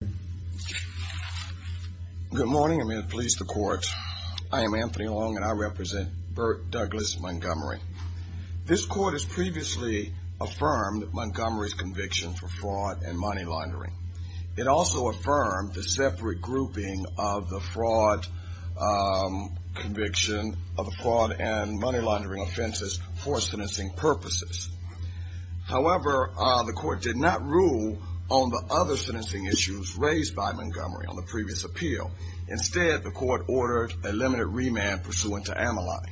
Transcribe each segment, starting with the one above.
Good morning, and may it please the court. I am Anthony Long, and I represent Burt Douglas Montgomery. This court has previously affirmed Montgomery's conviction for fraud and money laundering. It also affirmed the separate grouping of the fraud conviction of the fraud and money laundering offenses for sentencing purposes. However, the court did not rule on the other sentencing issues raised by Montgomery on the previous appeal. Instead, the court ordered a limited remand pursuant to Ameline.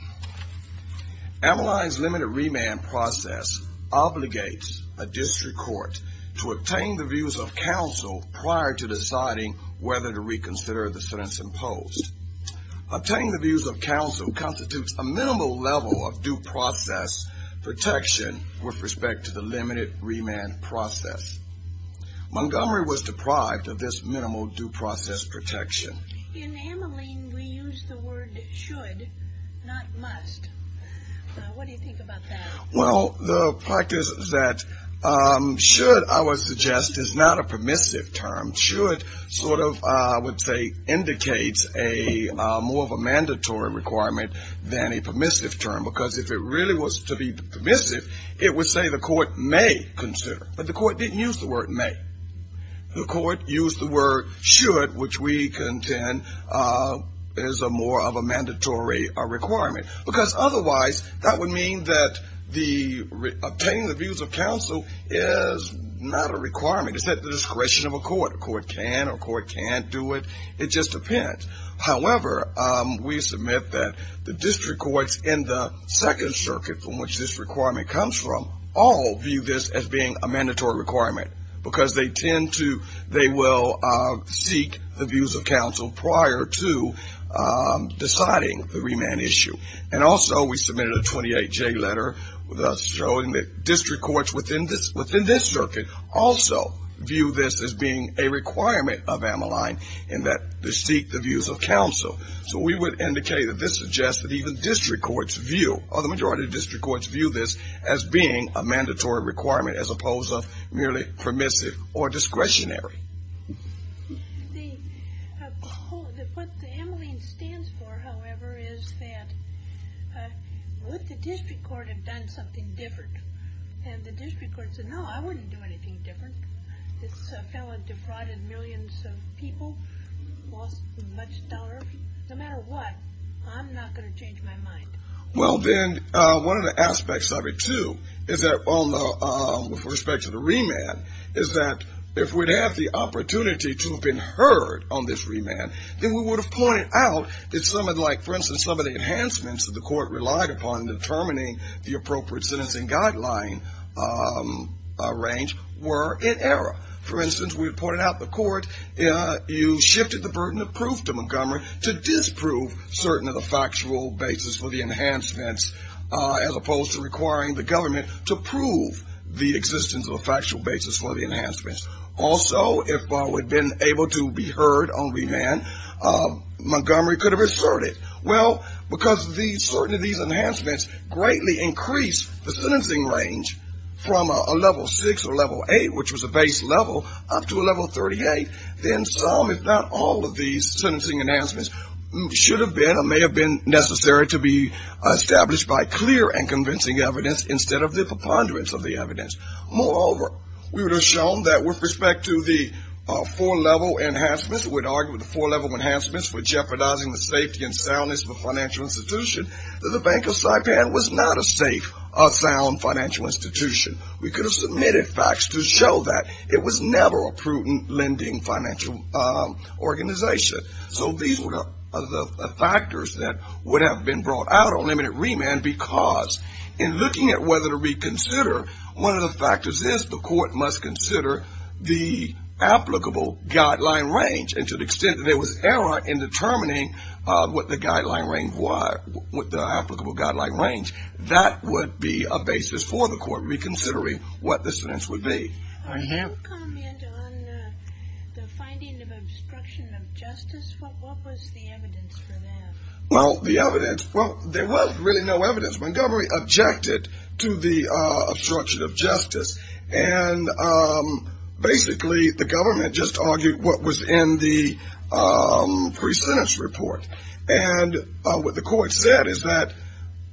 Ameline's limited remand process obligates a district court to obtain the views of counsel prior to deciding whether to reconsider the sentence imposed. Obtaining the views of counsel constitutes a minimal level of due process protection with respect to the limited remand process. Montgomery was deprived of this minimal due process protection. In Ameline, we use the word should, not must. What do you think about that? Well, the practice that should, I would suggest, is not a permissive term. Should sort of, I would say, indicates more of a mandatory requirement than a permissive term, because if it really was to be permissive, it would say the court may consider. But the court didn't use the word may. The court used the word should, which we contend is more of a mandatory requirement. Because otherwise, that would mean that obtaining the views of counsel is not a requirement. It's at the discretion of a court. A court can or a court can't do it. It just depends. However, we submit that the district courts in the second circuit from which this requirement comes from, all view this as being a mandatory requirement. Because they tend to, they will seek the views of counsel prior to deciding the remand issue. And also, we submitted a 28-J letter showing that district courts within this circuit also view this as being a requirement of Ameline, in that they seek the views of counsel. So we would indicate that this suggests that even district courts view, or the majority of district courts view this as being a mandatory requirement, as opposed to merely permissive or discretionary. What the Ameline stands for, however, is that would the district court have done something different? And the district court said, no, I wouldn't do anything different. This fellow defrauded millions of people, lost much dollars. No matter what, I'm not going to change my mind. Well, then, one of the aspects of it, too, is that, with respect to the remand, is that if we'd have the opportunity to have been heard on this remand, then we would have pointed out that some of the, like, for instance, some of the enhancements that the court relied upon in determining the appropriate sentencing guideline range were in error. For instance, we reported out to the court, you shifted the burden of proof to Montgomery to disprove certain of the factual basis for the enhancements, as opposed to requiring the government to prove the existence of a factual basis for the enhancements. Also, if I would have been able to be heard on remand, Montgomery could have asserted. Well, because these enhancements greatly increased the sentencing range from a level 6 or level 8, which was a base level, up to a level 38, then some, if not all, of these sentencing enhancements should have been or may have been necessary to be established by clear and convincing evidence instead of the preponderance of the evidence. Moreover, we would have shown that with respect to the four-level enhancements, we would argue that the four-level enhancements were jeopardizing the safety and soundness of the financial institution, that the Bank of Saipan was not a safe, sound financial institution. We could have submitted facts to show that. It was never a prudent lending financial organization. So these were the factors that would have been brought out on limited remand because in looking at whether to reconsider, one of the factors is the court must consider the applicable guideline range and to the extent that there was error in determining what the guideline range was, what the applicable guideline range, that would be a basis for the court reconsidering what the sentence would be. I have a comment on the finding of obstruction of justice. What was the evidence for that? Well, the evidence, well, there was really no evidence. Montgomery objected to the obstruction of justice, and basically the government just argued what was in the pre-sentence report. And what the court said is that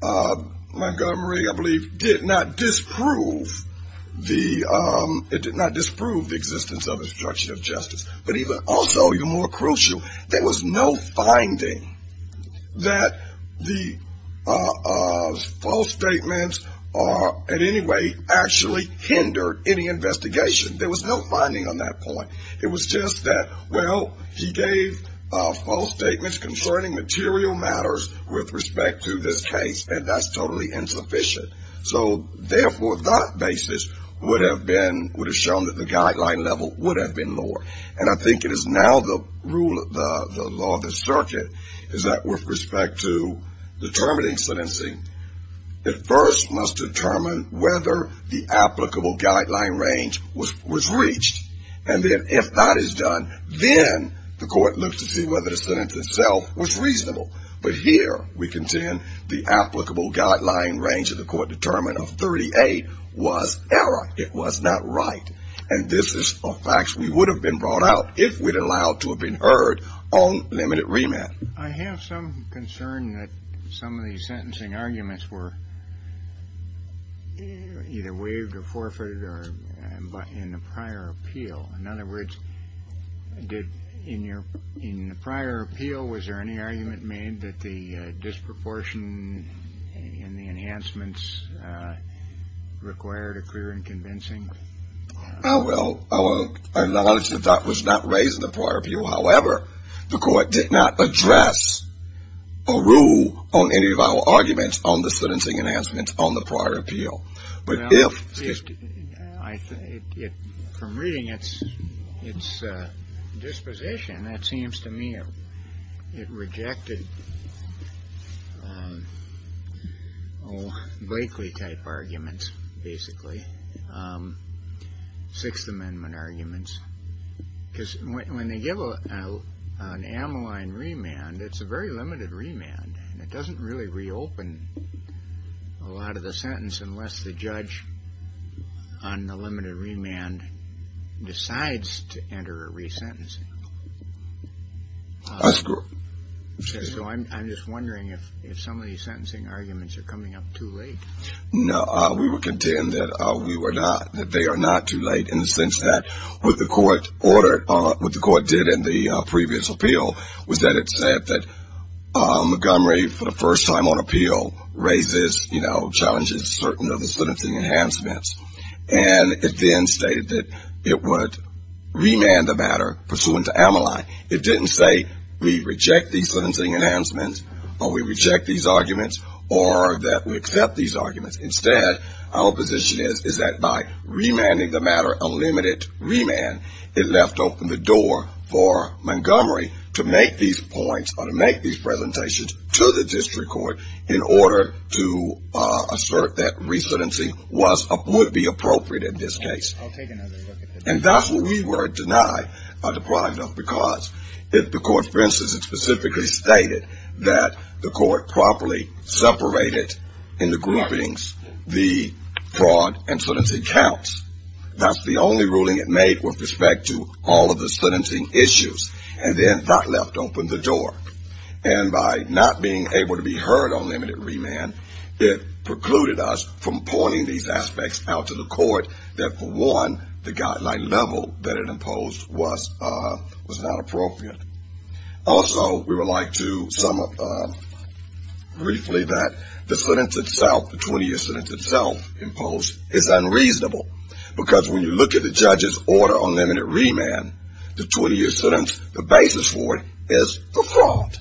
Montgomery, I believe, did not disprove the existence of obstruction of justice. But also, even more crucial, there was no finding that the false statements are in any way actually hindered any investigation. There was no finding on that point. It was just that, well, he gave false statements concerning material matters with respect to this case, and that's totally insufficient. So therefore, that basis would have been, would have shown that the guideline level would have been lower. And I think it is now the rule, the law of the circuit, is that with respect to determining sentencing, it first must determine whether the applicable guideline range was reached. And then if that is done, then the court looks to see whether the sentence itself was reasonable. But here we contend the applicable guideline range that the court determined of 38 was error. It was not right. And this is a fact that would have been brought out if we'd allowed to have been heard on limited remand. I have some concern that some of these sentencing arguments were either waived or forfeited in the prior appeal. In other words, in the prior appeal, was there any argument made that the disproportion in the enhancements required a clear and convincing? Well, our knowledge of that was not raised in the prior appeal. However, the court did not address or rule on any of our arguments on the sentencing enhancements on the prior appeal. Well, from reading its disposition, it seems to me it rejected Blakely-type arguments, basically, Sixth Amendment arguments. Because when they give an amyline remand, it's a very limited remand. It doesn't really reopen a lot of the sentence unless the judge on the limited remand decides to enter a resentencing. That's correct. So I'm just wondering if some of these sentencing arguments are coming up too late. No, we would contend that they are not too late in the sense that what the court ordered or what the court did in the previous appeal was that it said that Montgomery, for the first time on appeal, raises, you know, challenges certain of the sentencing enhancements. And it then stated that it would remand the matter pursuant to amyline. It didn't say we reject these sentencing enhancements or we reject these arguments or that we accept these arguments. Instead, our position is that by remanding the matter a limited remand, it left open the door for Montgomery to make these points or to make these presentations to the district court in order to assert that resentencing would be appropriate in this case. And that's what we were denied or deprived of because if the court, for instance, specifically stated that the court properly separated in the groupings the fraud and sentencing counts, that's the only ruling it made with respect to all of the sentencing issues and then that left open the door. And by not being able to be heard on limited remand, it precluded us from pointing these aspects out to the court that, for one, the guideline level that it imposed was not appropriate. Also, we would like to sum up briefly that the sentence itself, the 20-year sentence itself imposed is unreasonable because when you look at the judge's order on limited remand, the 20-year sentence, the basis for it is the fraud.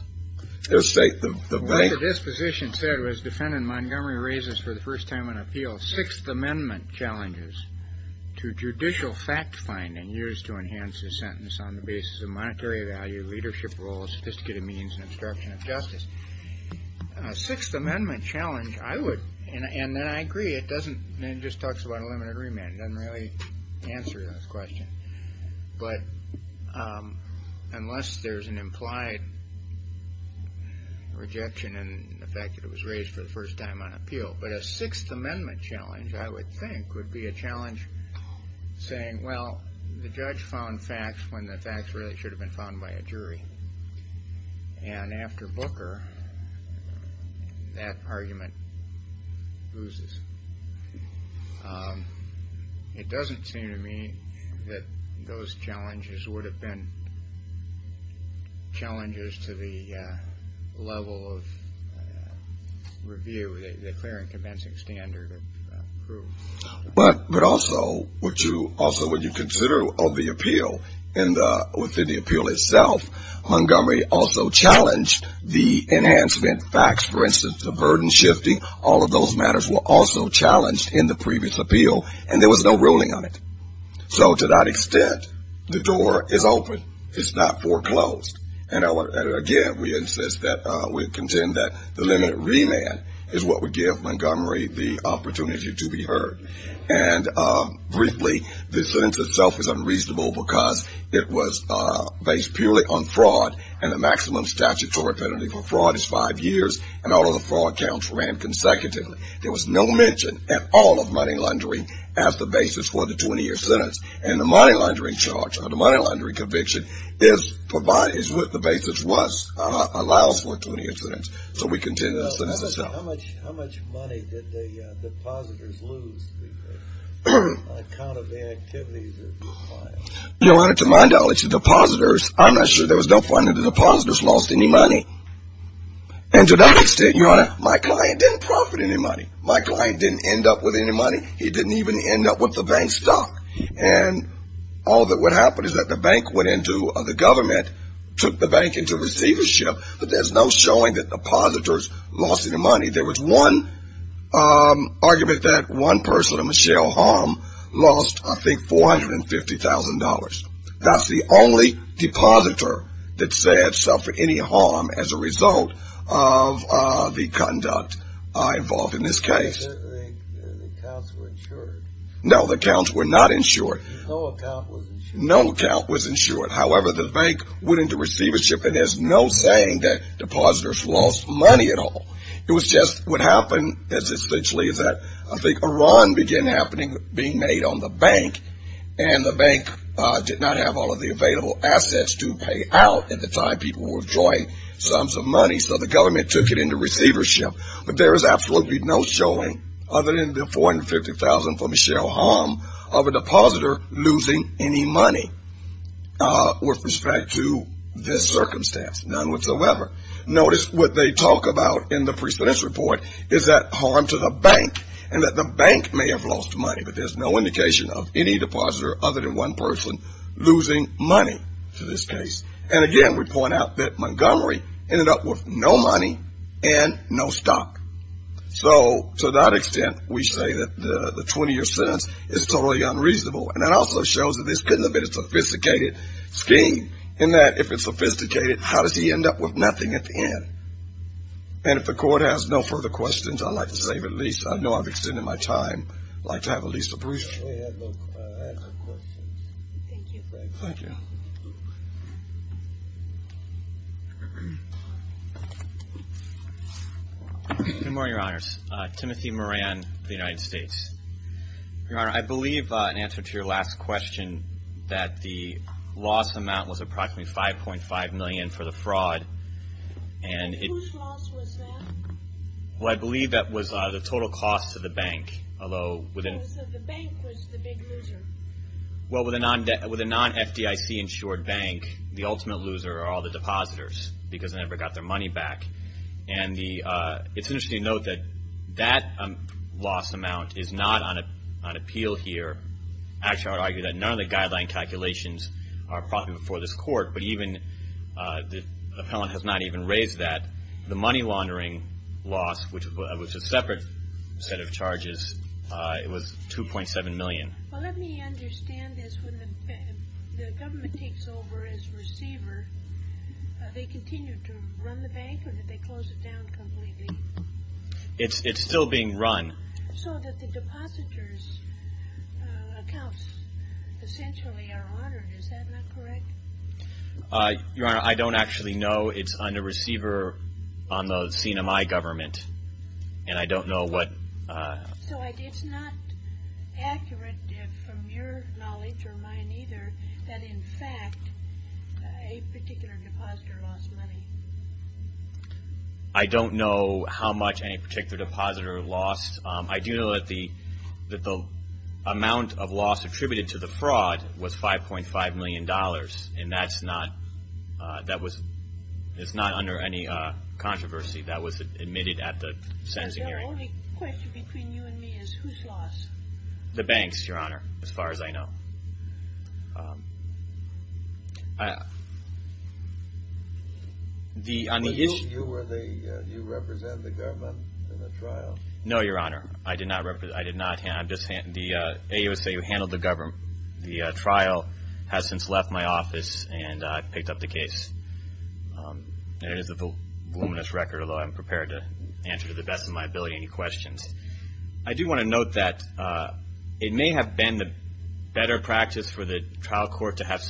What the disposition said was defendant Montgomery raises for the first time in an appeal sixth amendment challenges to judicial fact-finding used to enhance the sentence on the basis of monetary value, leadership role, sophisticated means, and obstruction of justice. Sixth amendment challenge, I would, and then I agree, it doesn't, it just talks about a limited remand, it doesn't really answer that question. But unless there's an implied rejection in the fact that it was raised for the first time on appeal, but a sixth amendment challenge, I would think, would be a challenge saying, well, the judge found facts when the facts really should have been found by a jury. And after Booker, that argument loses. It doesn't seem to me that those challenges would have been challenges to the level of review, the clear and convincing standard of proof. But, but also, would you, also would you consider of the appeal and within the appeal itself, Montgomery also challenged the enhancement facts, for instance, the burden shifting, all of those matters were also challenged in the previous appeal, and there was no ruling on it. So to that extent, the door is open, it's not foreclosed. And again, we insist that, we contend that the limited remand is what would give Montgomery the opportunity to be heard. And briefly, the sentence itself is unreasonable because it was based purely on fraud, and the maximum statutory penalty for fraud is five years, and all of the fraud counts ran consecutively. There was no mention at all of money laundering as the basis for the 20-year sentence. And the money laundering charge, or the money laundering conviction, is provided, is what the basis was, allows for a 20-year sentence. So we contend that the sentence itself. How much money did the depositors lose on account of the activities that were planned? Your Honor, to my knowledge, the depositors, I'm not sure there was no finding the depositors lost any money. And to that extent, Your Honor, my client didn't profit any money. My client didn't end up with any money. He didn't even end up with the bank stock. And all that would happen is that the bank went into, the government took the bank into receivership, but there's no showing that depositors lost any money. There was one argument that one person, Michelle Hom, lost, I think, $450,000. That's the only depositor that said suffered any harm as a result of the conduct involved in this case. The accounts were insured? No, the accounts were not insured. No account was insured? No account was insured. However, the bank went into receivership, and there's no saying that depositors lost money at all. It was just what happened is essentially that, I think, a run began happening, being made on the bank, and the bank did not have all of the available assets to pay out at the time people were withdrawing sums of money, so the government took it into receivership. But there is absolutely no showing, other than the $450,000 from Michelle Hom, of a depositor losing any money with respect to this circumstance, none whatsoever. Notice what they talk about in the precedence report is that harm to the bank, and that the bank may have lost money, but there's no indication of any depositor other than one person losing money to this case. And again, we point out that Montgomery ended up with no money and no stock. So to that extent, we say that the 20-year sentence is totally unreasonable, and it also shows that this couldn't have been a sophisticated scheme, in that if it's sophisticated, how does he end up with nothing at the end? And if the court has no further questions, I'd like to save at least, I know I've extended my time, I'd like to have at least a brief. Go ahead, Luke, ask your questions. Thank you. Thank you. Good morning, Your Honors. Timothy Moran, of the United States. Your Honor, I believe in answer to your last question, that the loss amount was approximately $5.5 million for the fraud. And whose loss was that? Well, I believe that was the total cost to the bank, although within So the bank was the big loser? Well, with a non-FDIC insured bank, the ultimate loser are all the depositors, because they never got their money back. And it's interesting to note that that loss amount is not on appeal here. Actually, I would argue that none of the guideline calculations are probably before this court, but even the appellant has not even raised that. The money laundering loss, which was a separate set of charges, it was $2.7 million. Well, let me understand this. When the government takes over as receiver, they continue to run the bank, or did they close it down completely? It's still being run. So that the depositors' accounts essentially are honored. Is that not correct? Your Honor, I don't actually know. It's on the receiver on the CNMI government. And I don't know what So it's not accurate from your knowledge, or mine either, that in fact a particular depositor lost money? I don't know how much any particular depositor lost. I do know that the amount of loss attributed to the fraud was $5.5 million. And that's not under any controversy. That was admitted at the sentencing hearing. The only question between you and me is whose loss? The bank's, Your Honor, as far as I know. You represent the government in the trial? No, Your Honor, I did not. The AUSA who handled the trial has since left my office and picked up the case. It is a voluminous record, although I'm prepared to answer to the best of my ability any questions. I do want to note that it may have been the better practice for the trial court to have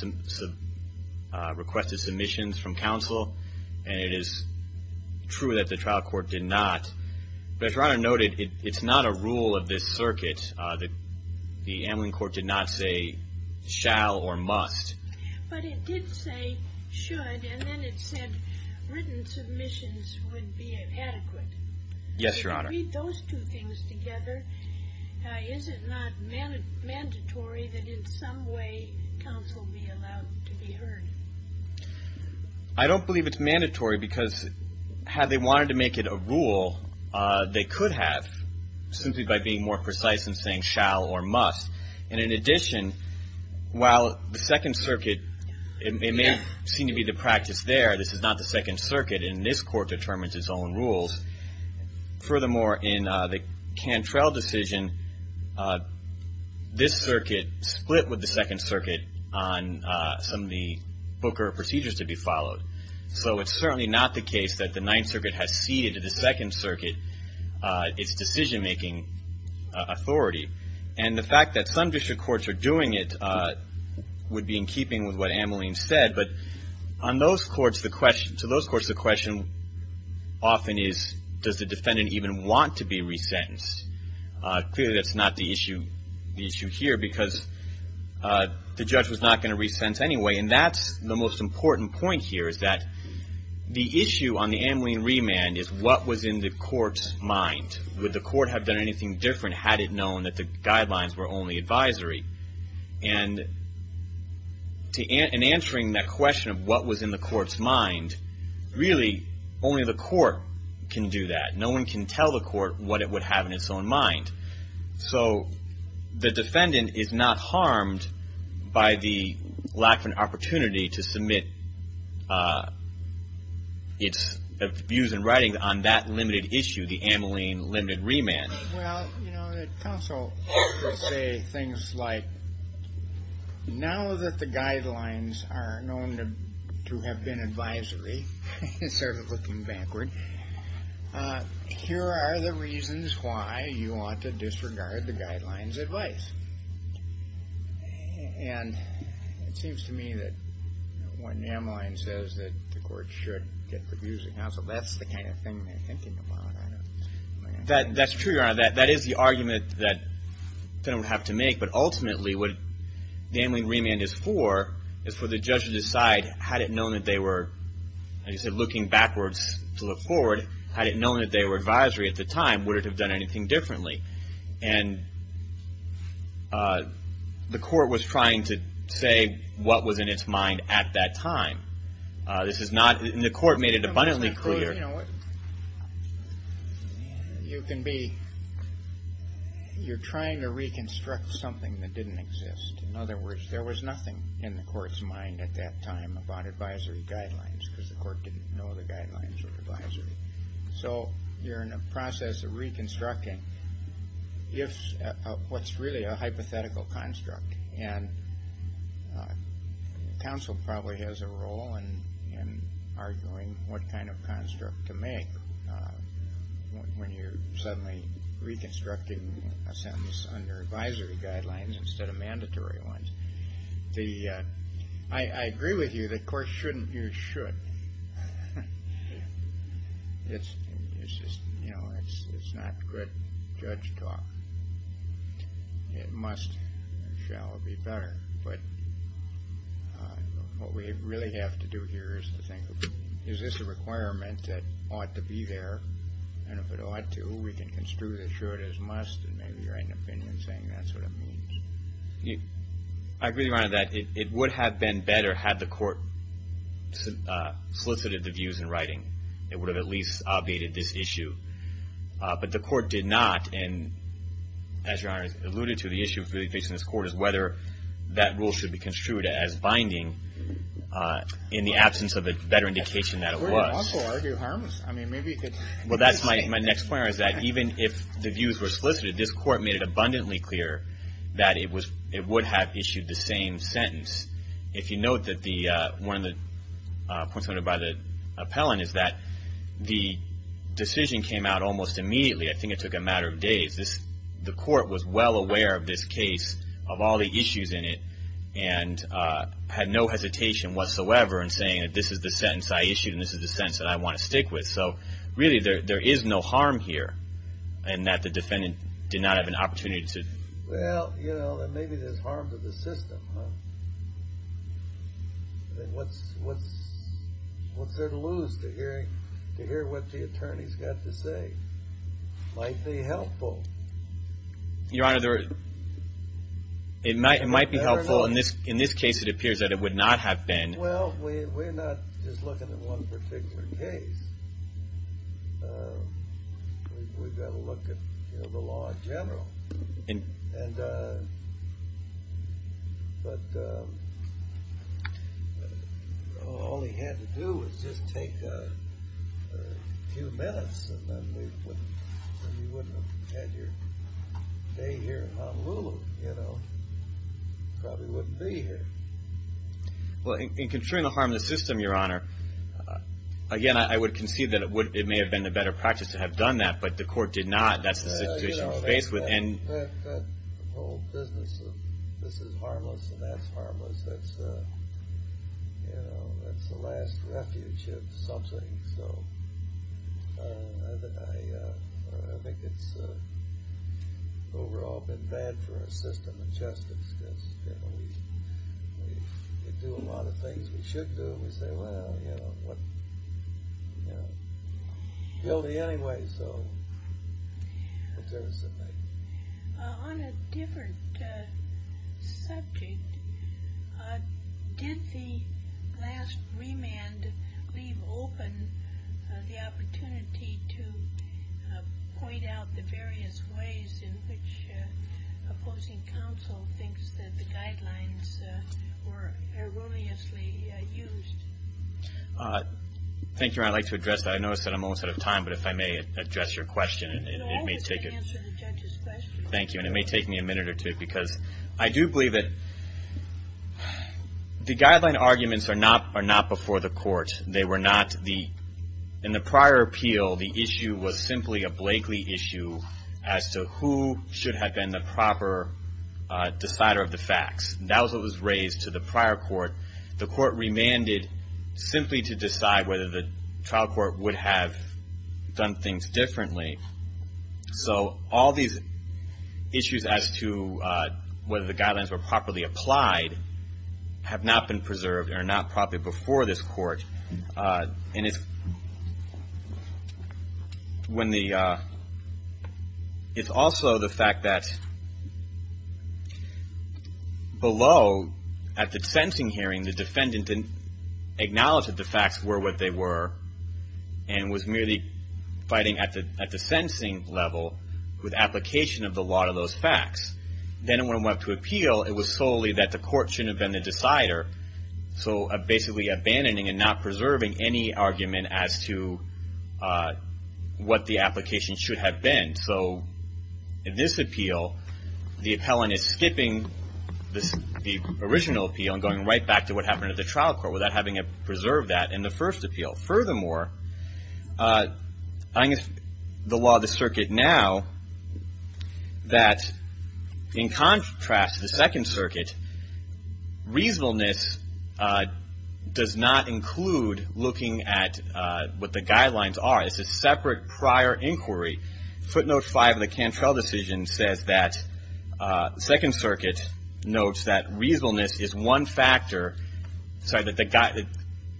requested submissions from counsel. And it is true that the trial court did not. But as Your Honor noted, it's not a rule of this circuit that the ambulance court did not say shall or must. But it did say should, and then it said written submissions would be adequate. Yes, Your Honor. When you read those two things together, is it not mandatory that in some way counsel be allowed to be heard? I don't believe it's mandatory because had they wanted to make it a rule, they could have simply by being more precise in saying shall or must. And in addition, while the Second Circuit, it may seem to be the practice there, this is not the Second Circuit, and this court determines its own rules. Furthermore, in the Cantrell decision, this circuit split with the Second Circuit on some of the Booker procedures to be followed. So it's certainly not the case that the Ninth Circuit has ceded to the Second Circuit its decision-making authority. And the fact that some district courts are doing it would be in keeping with what Ameline said. But to those courts, the question often is, does the defendant even want to be resentenced? Clearly, that's not the issue here because the judge was not going to resent anyway. And that's the most important point here is that the issue on the Ameline remand is what was in the court's mind. Would the court have done anything different had it known that the guidelines were only advisory? And in answering that question of what was in the court's mind, really only the court can do that. No one can tell the court what it would have in its own mind. So the defendant is not harmed by the lack of an opportunity to submit its views and writings on that limited issue, the Ameline limited remand. Well, you know, the counsel would say things like, now that the guidelines are known to have been advisory, sort of looking backward, here are the reasons why you ought to disregard the guidelines' advice. And it seems to me that when Ameline says that the court should get the views of counsel, that's the kind of thing they're thinking about. That's true, Your Honor. That is the argument that the defendant would have to make, but ultimately what the Ameline remand is for, is for the judge to decide had it known that they were, as you said, looking backwards to look forward, had it known that they were advisory at the time, would it have done anything differently? And the court was trying to say what was in its mind at that time. This is not, and the court made it abundantly clear. You know, you can be, you're trying to reconstruct something that didn't exist. In other words, there was nothing in the court's mind at that time about advisory guidelines, because the court didn't know the guidelines were advisory. So you're in a process of reconstructing what's really a hypothetical construct. And counsel probably has a role in arguing what kind of construct to make when you're suddenly reconstructing a sentence under advisory guidelines instead of mandatory ones. I agree with you, the court shouldn't use should. It's just, you know, it's not good judge talk. It must and shall be better. But what we really have to do here is to think, is this a requirement that ought to be there? And if it ought to, we can construe the should as must, and maybe write an opinion saying that's what it means. I agree with you on that. It would have been better had the court solicited the views in writing. It would have at least obviated this issue. But the court did not, and as Your Honor alluded to, the issue really facing this court is whether that rule should be construed as binding in the absence of a better indication that it was. It could also argue harms. My next point is that even if the views were solicited, this court made it abundantly clear that it would have issued the same sentence. If you note that one of the points made by the appellant is that the decision came out almost immediately. I think it took a matter of days. The court was well aware of this case, of all the issues in it, and had no hesitation whatsoever in saying that this is the sentence I issued, and this is the sentence that I want to stick with. So really there is no harm here in that the defendant did not have an opportunity to... Well, you know, maybe there's harm to the system, huh? What's there to lose to hear what the attorney's got to say? It might be helpful. Your Honor, it might be helpful. In this case it appears that it would not have been. Well, we're not just looking at one particular case. We've got to look at the law in general. But all he had to do was just take a few minutes, and then you wouldn't have had your day here in Honolulu, you know? You probably wouldn't be here. Well, in controlling the harm to the system, Your Honor, again, I would concede that it may have been a better practice to have done that, but the court did not. That's the situation we're faced with. The whole business of this is harmless and that's harmless, that's the last refuge of something. So I think it's overall been bad for our system of justice, because we do a lot of things we should do, and we say, well, you know, what? You know, guilty anyway, so... On a different subject, did the last remand leave open the opportunity to point out the various ways in which opposing counsel thinks that the guidelines were erroneously used? Thank you, Your Honor. I'd like to address that. I notice that I'm almost out of time, but if I may address your question, it may take... You can always answer the judge's question. Thank you. And it may take me a minute or two, because I do believe that the guideline arguments are not before the court. They were not the... In the prior appeal, the issue was simply a Blakeley issue as to who should have been the proper decider of the facts. That was what was raised to the prior court. The court remanded simply to decide whether the trial court would have done things differently. So all these issues as to whether the guidelines were properly applied have not been preserved or not properly before this court. It's also the fact that below, at the sentencing hearing, the defendant acknowledged that the facts were what they were and was merely fighting at the sentencing level with application of the law to those facts. Then when it went up to appeal, it was solely that the court shouldn't have been the decider. So basically abandoning and not preserving any argument as to what the application should have been. So in this appeal, the appellant is skipping the original appeal and going right back to what happened at the trial court without having to preserve that in the first appeal. Furthermore, I think it's the law of the circuit now that in contrast to the second circuit, reasonableness does not include looking at what the guidelines are. It's a separate prior inquiry. Footnote 5 of the Cantrell decision says that the second circuit notes that reasonableness is one factor, sorry, that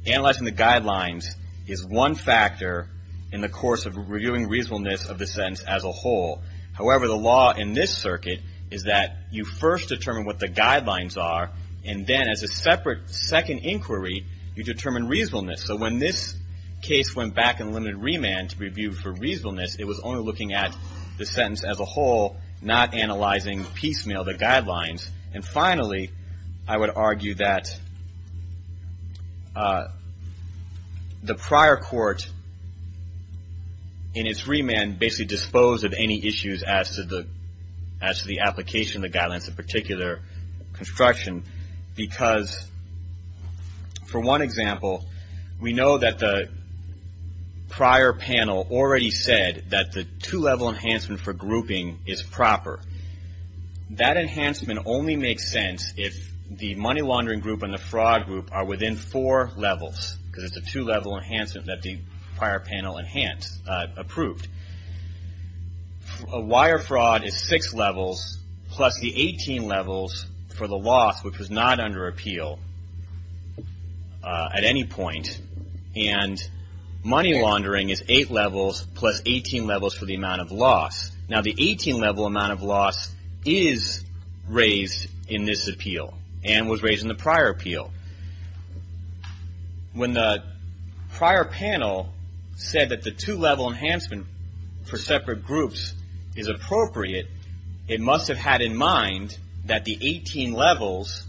analyzing the guidelines is one factor in the course of reviewing reasonableness of the sentence as a whole. However, the law in this circuit is that you first determine what the guidelines are and then as a separate second inquiry, you determine reasonableness. So when this case went back in limited remand to review for reasonableness, it was only looking at the sentence as a whole, not analyzing piecemeal the guidelines. And finally, I would argue that the prior court in its remand basically disposed of any issues as to the application of the guidelines, the particular construction, because for one example, we know that the prior panel already said that the two-level enhancement for grouping is proper. That enhancement only makes sense if the money laundering group and the fraud group are within four levels, because it's a two-level enhancement that the prior panel approved. Wire fraud is six levels plus the 18 levels for the loss, which was not under appeal at any point. And money laundering is eight levels plus 18 levels for the amount of loss. Now, the 18-level amount of loss is raised in this appeal and was raised in the prior appeal. When the prior panel said that the two-level enhancement for separate groups is appropriate, it must have had in mind that the 18 levels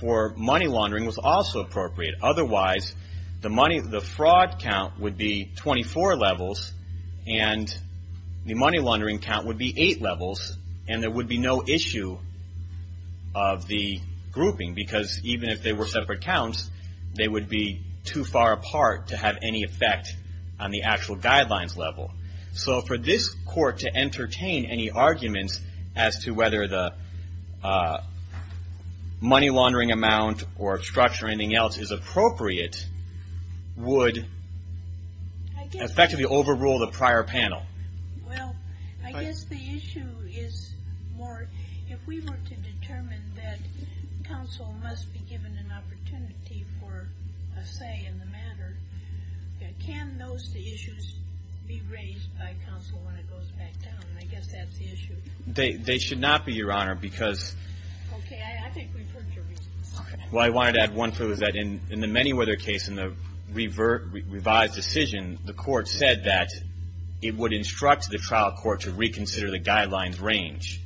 for money laundering was also appropriate. Otherwise, the fraud count would be 24 levels and the money laundering count would be eight levels, and there would be no issue of the grouping, because even if they were separate counts, they would be too far apart to have any effect on the actual guidelines level. So for this court to entertain any arguments as to whether the money laundering amount or obstruction or anything else is appropriate would effectively overrule the prior panel. Well, I guess the issue is more if we were to determine that counsel must be given an opportunity for a say in the matter, can those issues be raised by counsel when it goes back down? I guess that's the issue. They should not be, Your Honor, because... Okay, I think we've heard your reasons. Well, I wanted to add one thing, that in the Manyweather case, in the revised decision, the court said that it would instruct the trial court to reconsider the guidelines range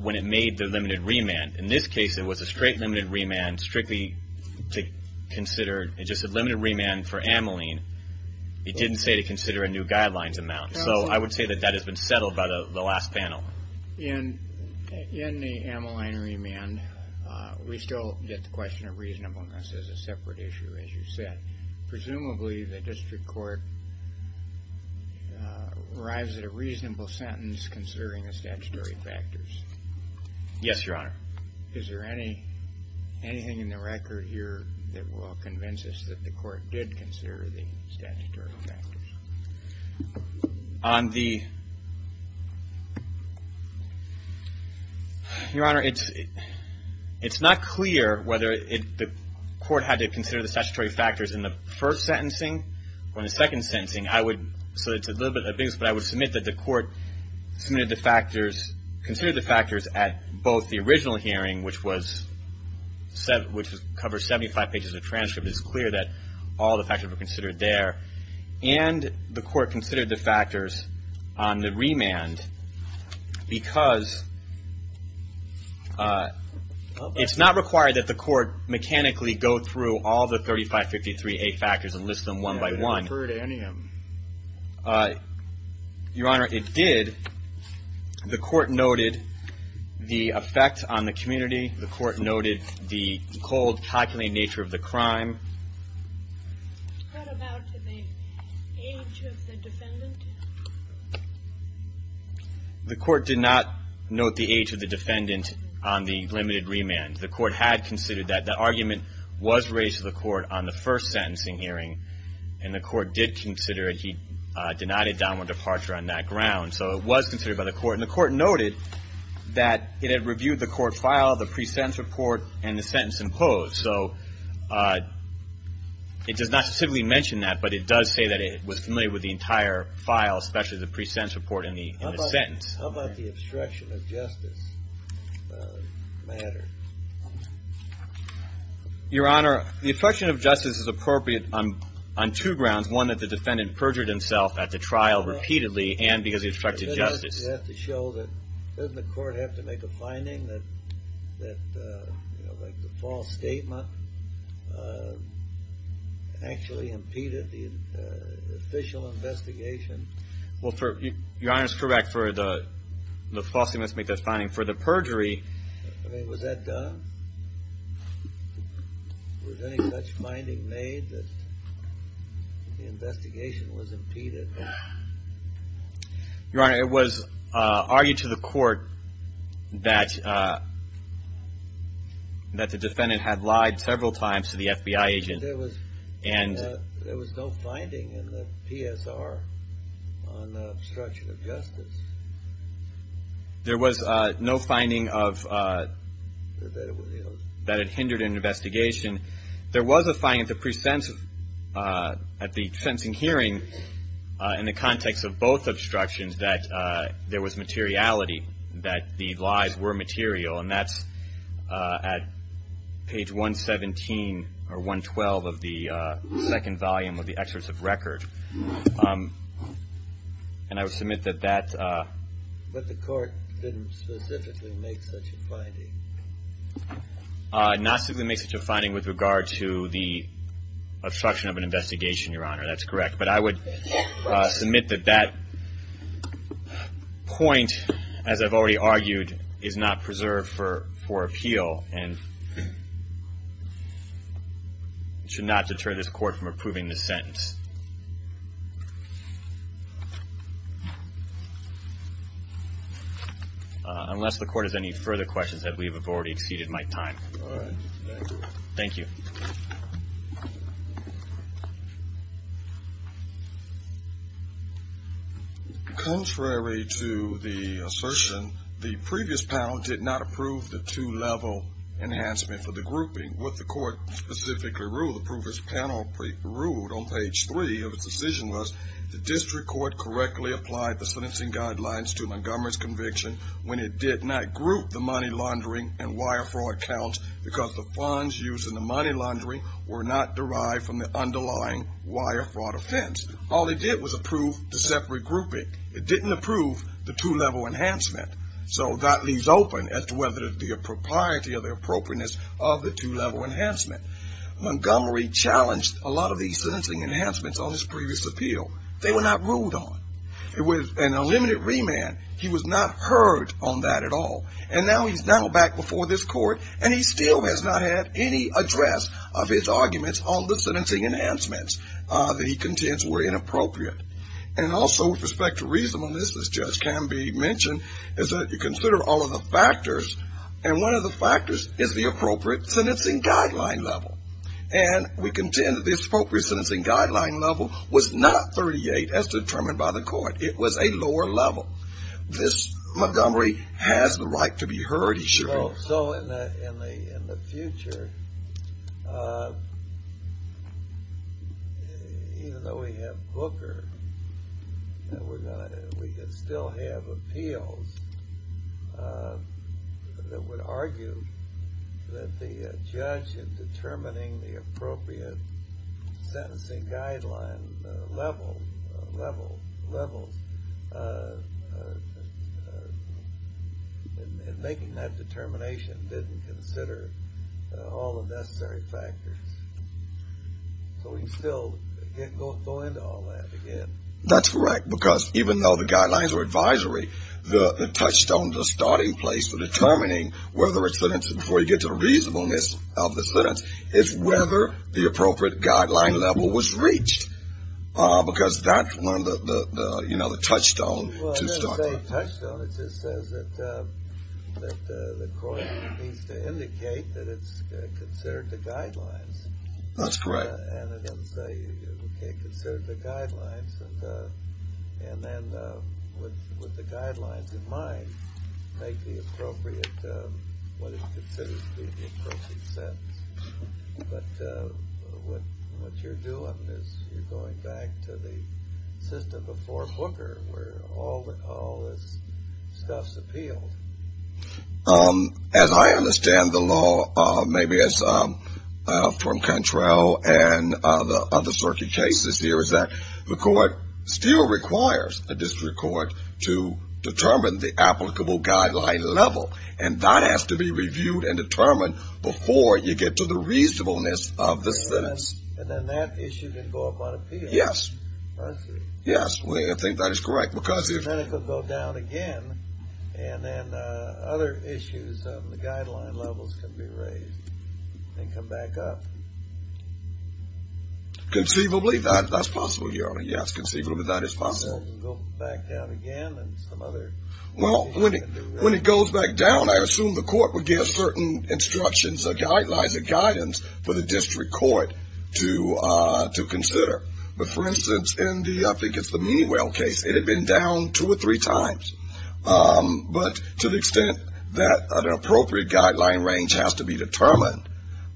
when it made the limited remand. In this case, it was a straight limited remand, strictly to consider, just a limited remand for Ameline. It didn't say to consider a new guidelines amount. So I would say that that has been settled by the last panel. In the Ameline remand, we still get the question of reasonableness as a separate issue, as you said. Presumably, the district court arrives at a reasonable sentence considering the statutory factors. Yes, Your Honor. Is there anything in the record here that will convince us that the court did consider the statutory factors? On the... Your Honor, it's not clear whether the court had to consider the statutory factors in the first sentencing or in the second sentencing. So it's a little bit ambiguous, but I would submit that the court considered the factors at both the original hearing, which covers 75 pages of transcript. It's clear that all the factors were considered there. And the court considered the factors on the remand because it's not required that the court mechanically go through all the 3553A factors and list them one by one. Your Honor, it did. The court noted the effect on the community. The court noted the cold, calculated nature of the crime. What about the age of the defendant? The court did not note the age of the defendant on the limited remand. The court had considered that. The argument was raised to the court on the first sentencing hearing, and the court did consider it. He denied a downward departure on that ground. So it was considered by the court. And the court noted that it had reviewed the court file, the pre-sentence report, and the sentence imposed. It does not specifically mention that, but it does say that it was familiar with the entire file, especially the pre-sentence report and the sentence. How about the obstruction of justice matter? Your Honor, the obstruction of justice is appropriate on two grounds. One, that the defendant perjured himself at the trial repeatedly, and because he obstructed justice. Doesn't the court have to make a finding that the false statement actually impeded the official investigation? Your Honor is correct. The false statement must make that finding. For the perjury... Was that done? Was any such finding made that the investigation was impeded? Your Honor, it was argued to the court that the defendant had lied several times to the FBI agent. There was no finding in the PSR on the obstruction of justice. There was no finding that it hindered an investigation. There was a finding at the sentencing hearing in the context of both obstructions that there was materiality, that the lies were material, and that's at page 117 or 112 of the second volume of the excerpt of record. And I would submit that that... But the court didn't specifically make such a finding. Not specifically make such a finding with regard to the obstruction of an investigation, Your Honor. That's correct. But I would submit that that point, as I've already argued, is not preserved for appeal and should not deter this court from approving this sentence. Unless the court has any further questions, I believe I've already exceeded my time. Thank you. Contrary to the assertion, the previous panel did not approve the two-level enhancement for the grouping. What the court specifically ruled, the previous panel ruled on page three of its decision was the district court correctly applied the sentencing guidelines to Montgomery's conviction when it did not group the money laundering and wire fraud counts because the funds used in the money laundering were not derived from the underlying wire fraud offense. All they did was approve the separate grouping. It didn't approve the two-level enhancement. So that leaves open as to whether the propriety or the appropriateness of the two-level enhancement. Montgomery challenged a lot of these sentencing enhancements on his previous appeal. They were not ruled on. It was an unlimited remand. He was not heard on that at all. And now he's now back before this court and he still has not had any address of his arguments on the sentencing enhancements that he contends were inappropriate. And also with respect to reasonableness this judge can be mentioned is that you consider all of the factors and one of the factors is the appropriate sentencing guideline level. And we contend that the appropriate sentencing guideline level was not 38 as determined by the court. It was a lower level. This Montgomery has the right to be heard, he should be. So in the future even though we have Booker we can still have appeals that would argue that the judge in determining the appropriate sentencing guideline level levels in making that determination didn't consider all the necessary factors. So we can still go into all that again. That's correct because even though the guidelines were advisory, the touchstone, the starting place for determining whether a sentence, before you get to reasonableness of the sentence, is whether the appropriate guideline level was reached. Because that you know, the touchstone Well I didn't say touchstone, it just says that the court needs to indicate that it's considered the guidelines. That's correct. Okay, consider the guidelines and then with the guidelines in mind, make the appropriate what it considers to be the appropriate sentence. But what you're doing is you're going back to the system before Booker where all this stuff's appealed. As I understand the law, maybe it's from Contrell and the other circuit cases here is that the court still requires a district court to determine the applicable guideline level. And that has to be reviewed and determined before you get to the reasonableness of the sentence. And then that issue can go up on appeal. Yes. Yes, I think that is correct. Then it can go down again and then other issues on the guideline levels can be raised and come back up. Conceivably, that's possible, Your Honor. Yes, conceivably that is possible. Go back down again and some other Well, when it goes back down, I assume the court would give certain instructions or guidelines or guidance for the district court to consider. But, for instance, in the Meewell case, it had been down two or three times. But to the extent that an appropriate guideline range has to be determined,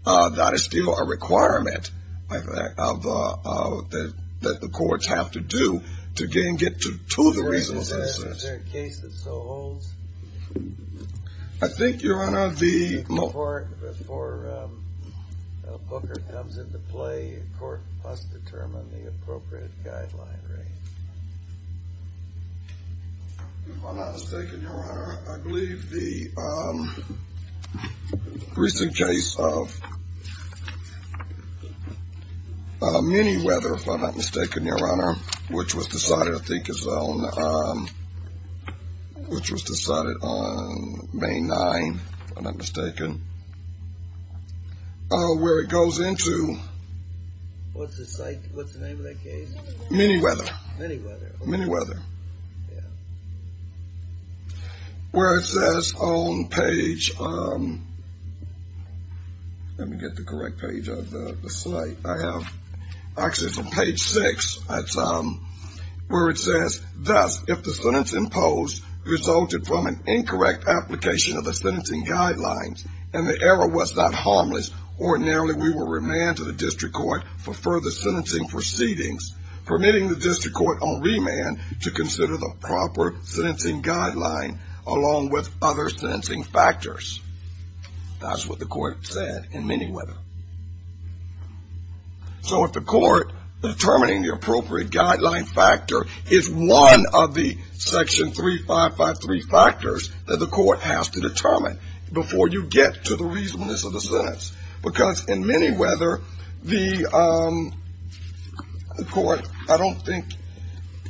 that is still a requirement that the courts have to do to get to the reasonableness of the sentence. Is there a case that still holds? I think, Your Honor, before Booker comes into play, the court must determine the appropriate guideline range. If I'm not mistaken, Your Honor, I believe the recent case of Minnieweather, if I'm not mistaken, Your Honor, which was decided I think is on which was decided on May 9 if I'm not mistaken where it goes into What's the name of that case? Minnieweather. Minnieweather. Where it says on page Let me get the correct page of the slide. I have page 6 where it says Thus, if the sentence imposed resulted from an incorrect application of the sentencing guidelines and the error was not harmless ordinarily we will remand to the district court for further sentencing proceedings permitting the district court on remand to consider the proper sentencing guideline along with other sentencing factors. That's what the court said in Minnieweather. So if the appropriate guideline factor is one of the section 3553 factors that the court has to determine before you get to the reasonableness of the sentence. Because in Minnieweather the court, I don't think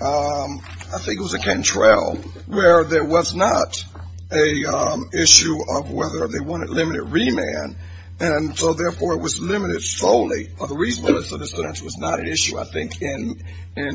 I think it was Cantrell where there was not an issue of whether they wanted limited remand and so therefore it was limited solely of the reasonableness of the sentence which was not an issue I think in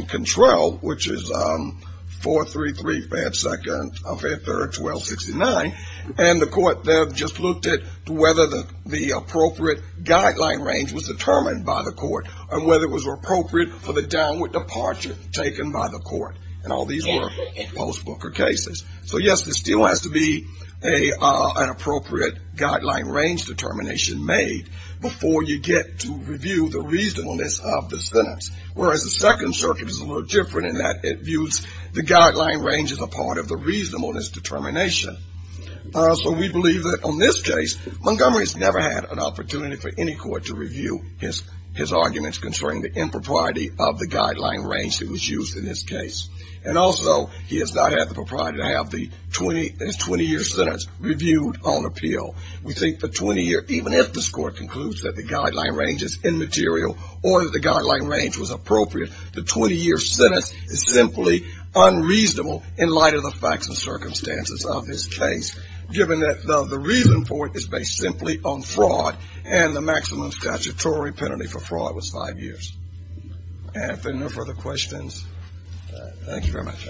Cantrell which is 4335 second 5th or 1269 and the court there just looked at whether the appropriate guideline range was determined by the court and whether it was appropriate for the downward departure taken by the court and all these were post-Booker cases. So yes there still has to be an appropriate guideline range determination made before you get to review the reasonableness of the sentence. Whereas the second circuit is a little different in that it views the guideline range as a part of the reasonableness determination. So we believe that on this case Montgomery's never had an opportunity for any court to review his arguments concerning the impropriety of the guideline range that was used in this case. And also he has not had the propriety to have the 20 year sentence reviewed on appeal. We think the 20 year even if this court concludes that the guideline range is immaterial or that the guideline range was appropriate, the 20 year sentence is simply unreasonable in light of the facts and circumstances of his case. Given that the reason for it is based simply on fraud and the maximum statutory penalty for fraud was 5 years. If there are no further questions thank you very much.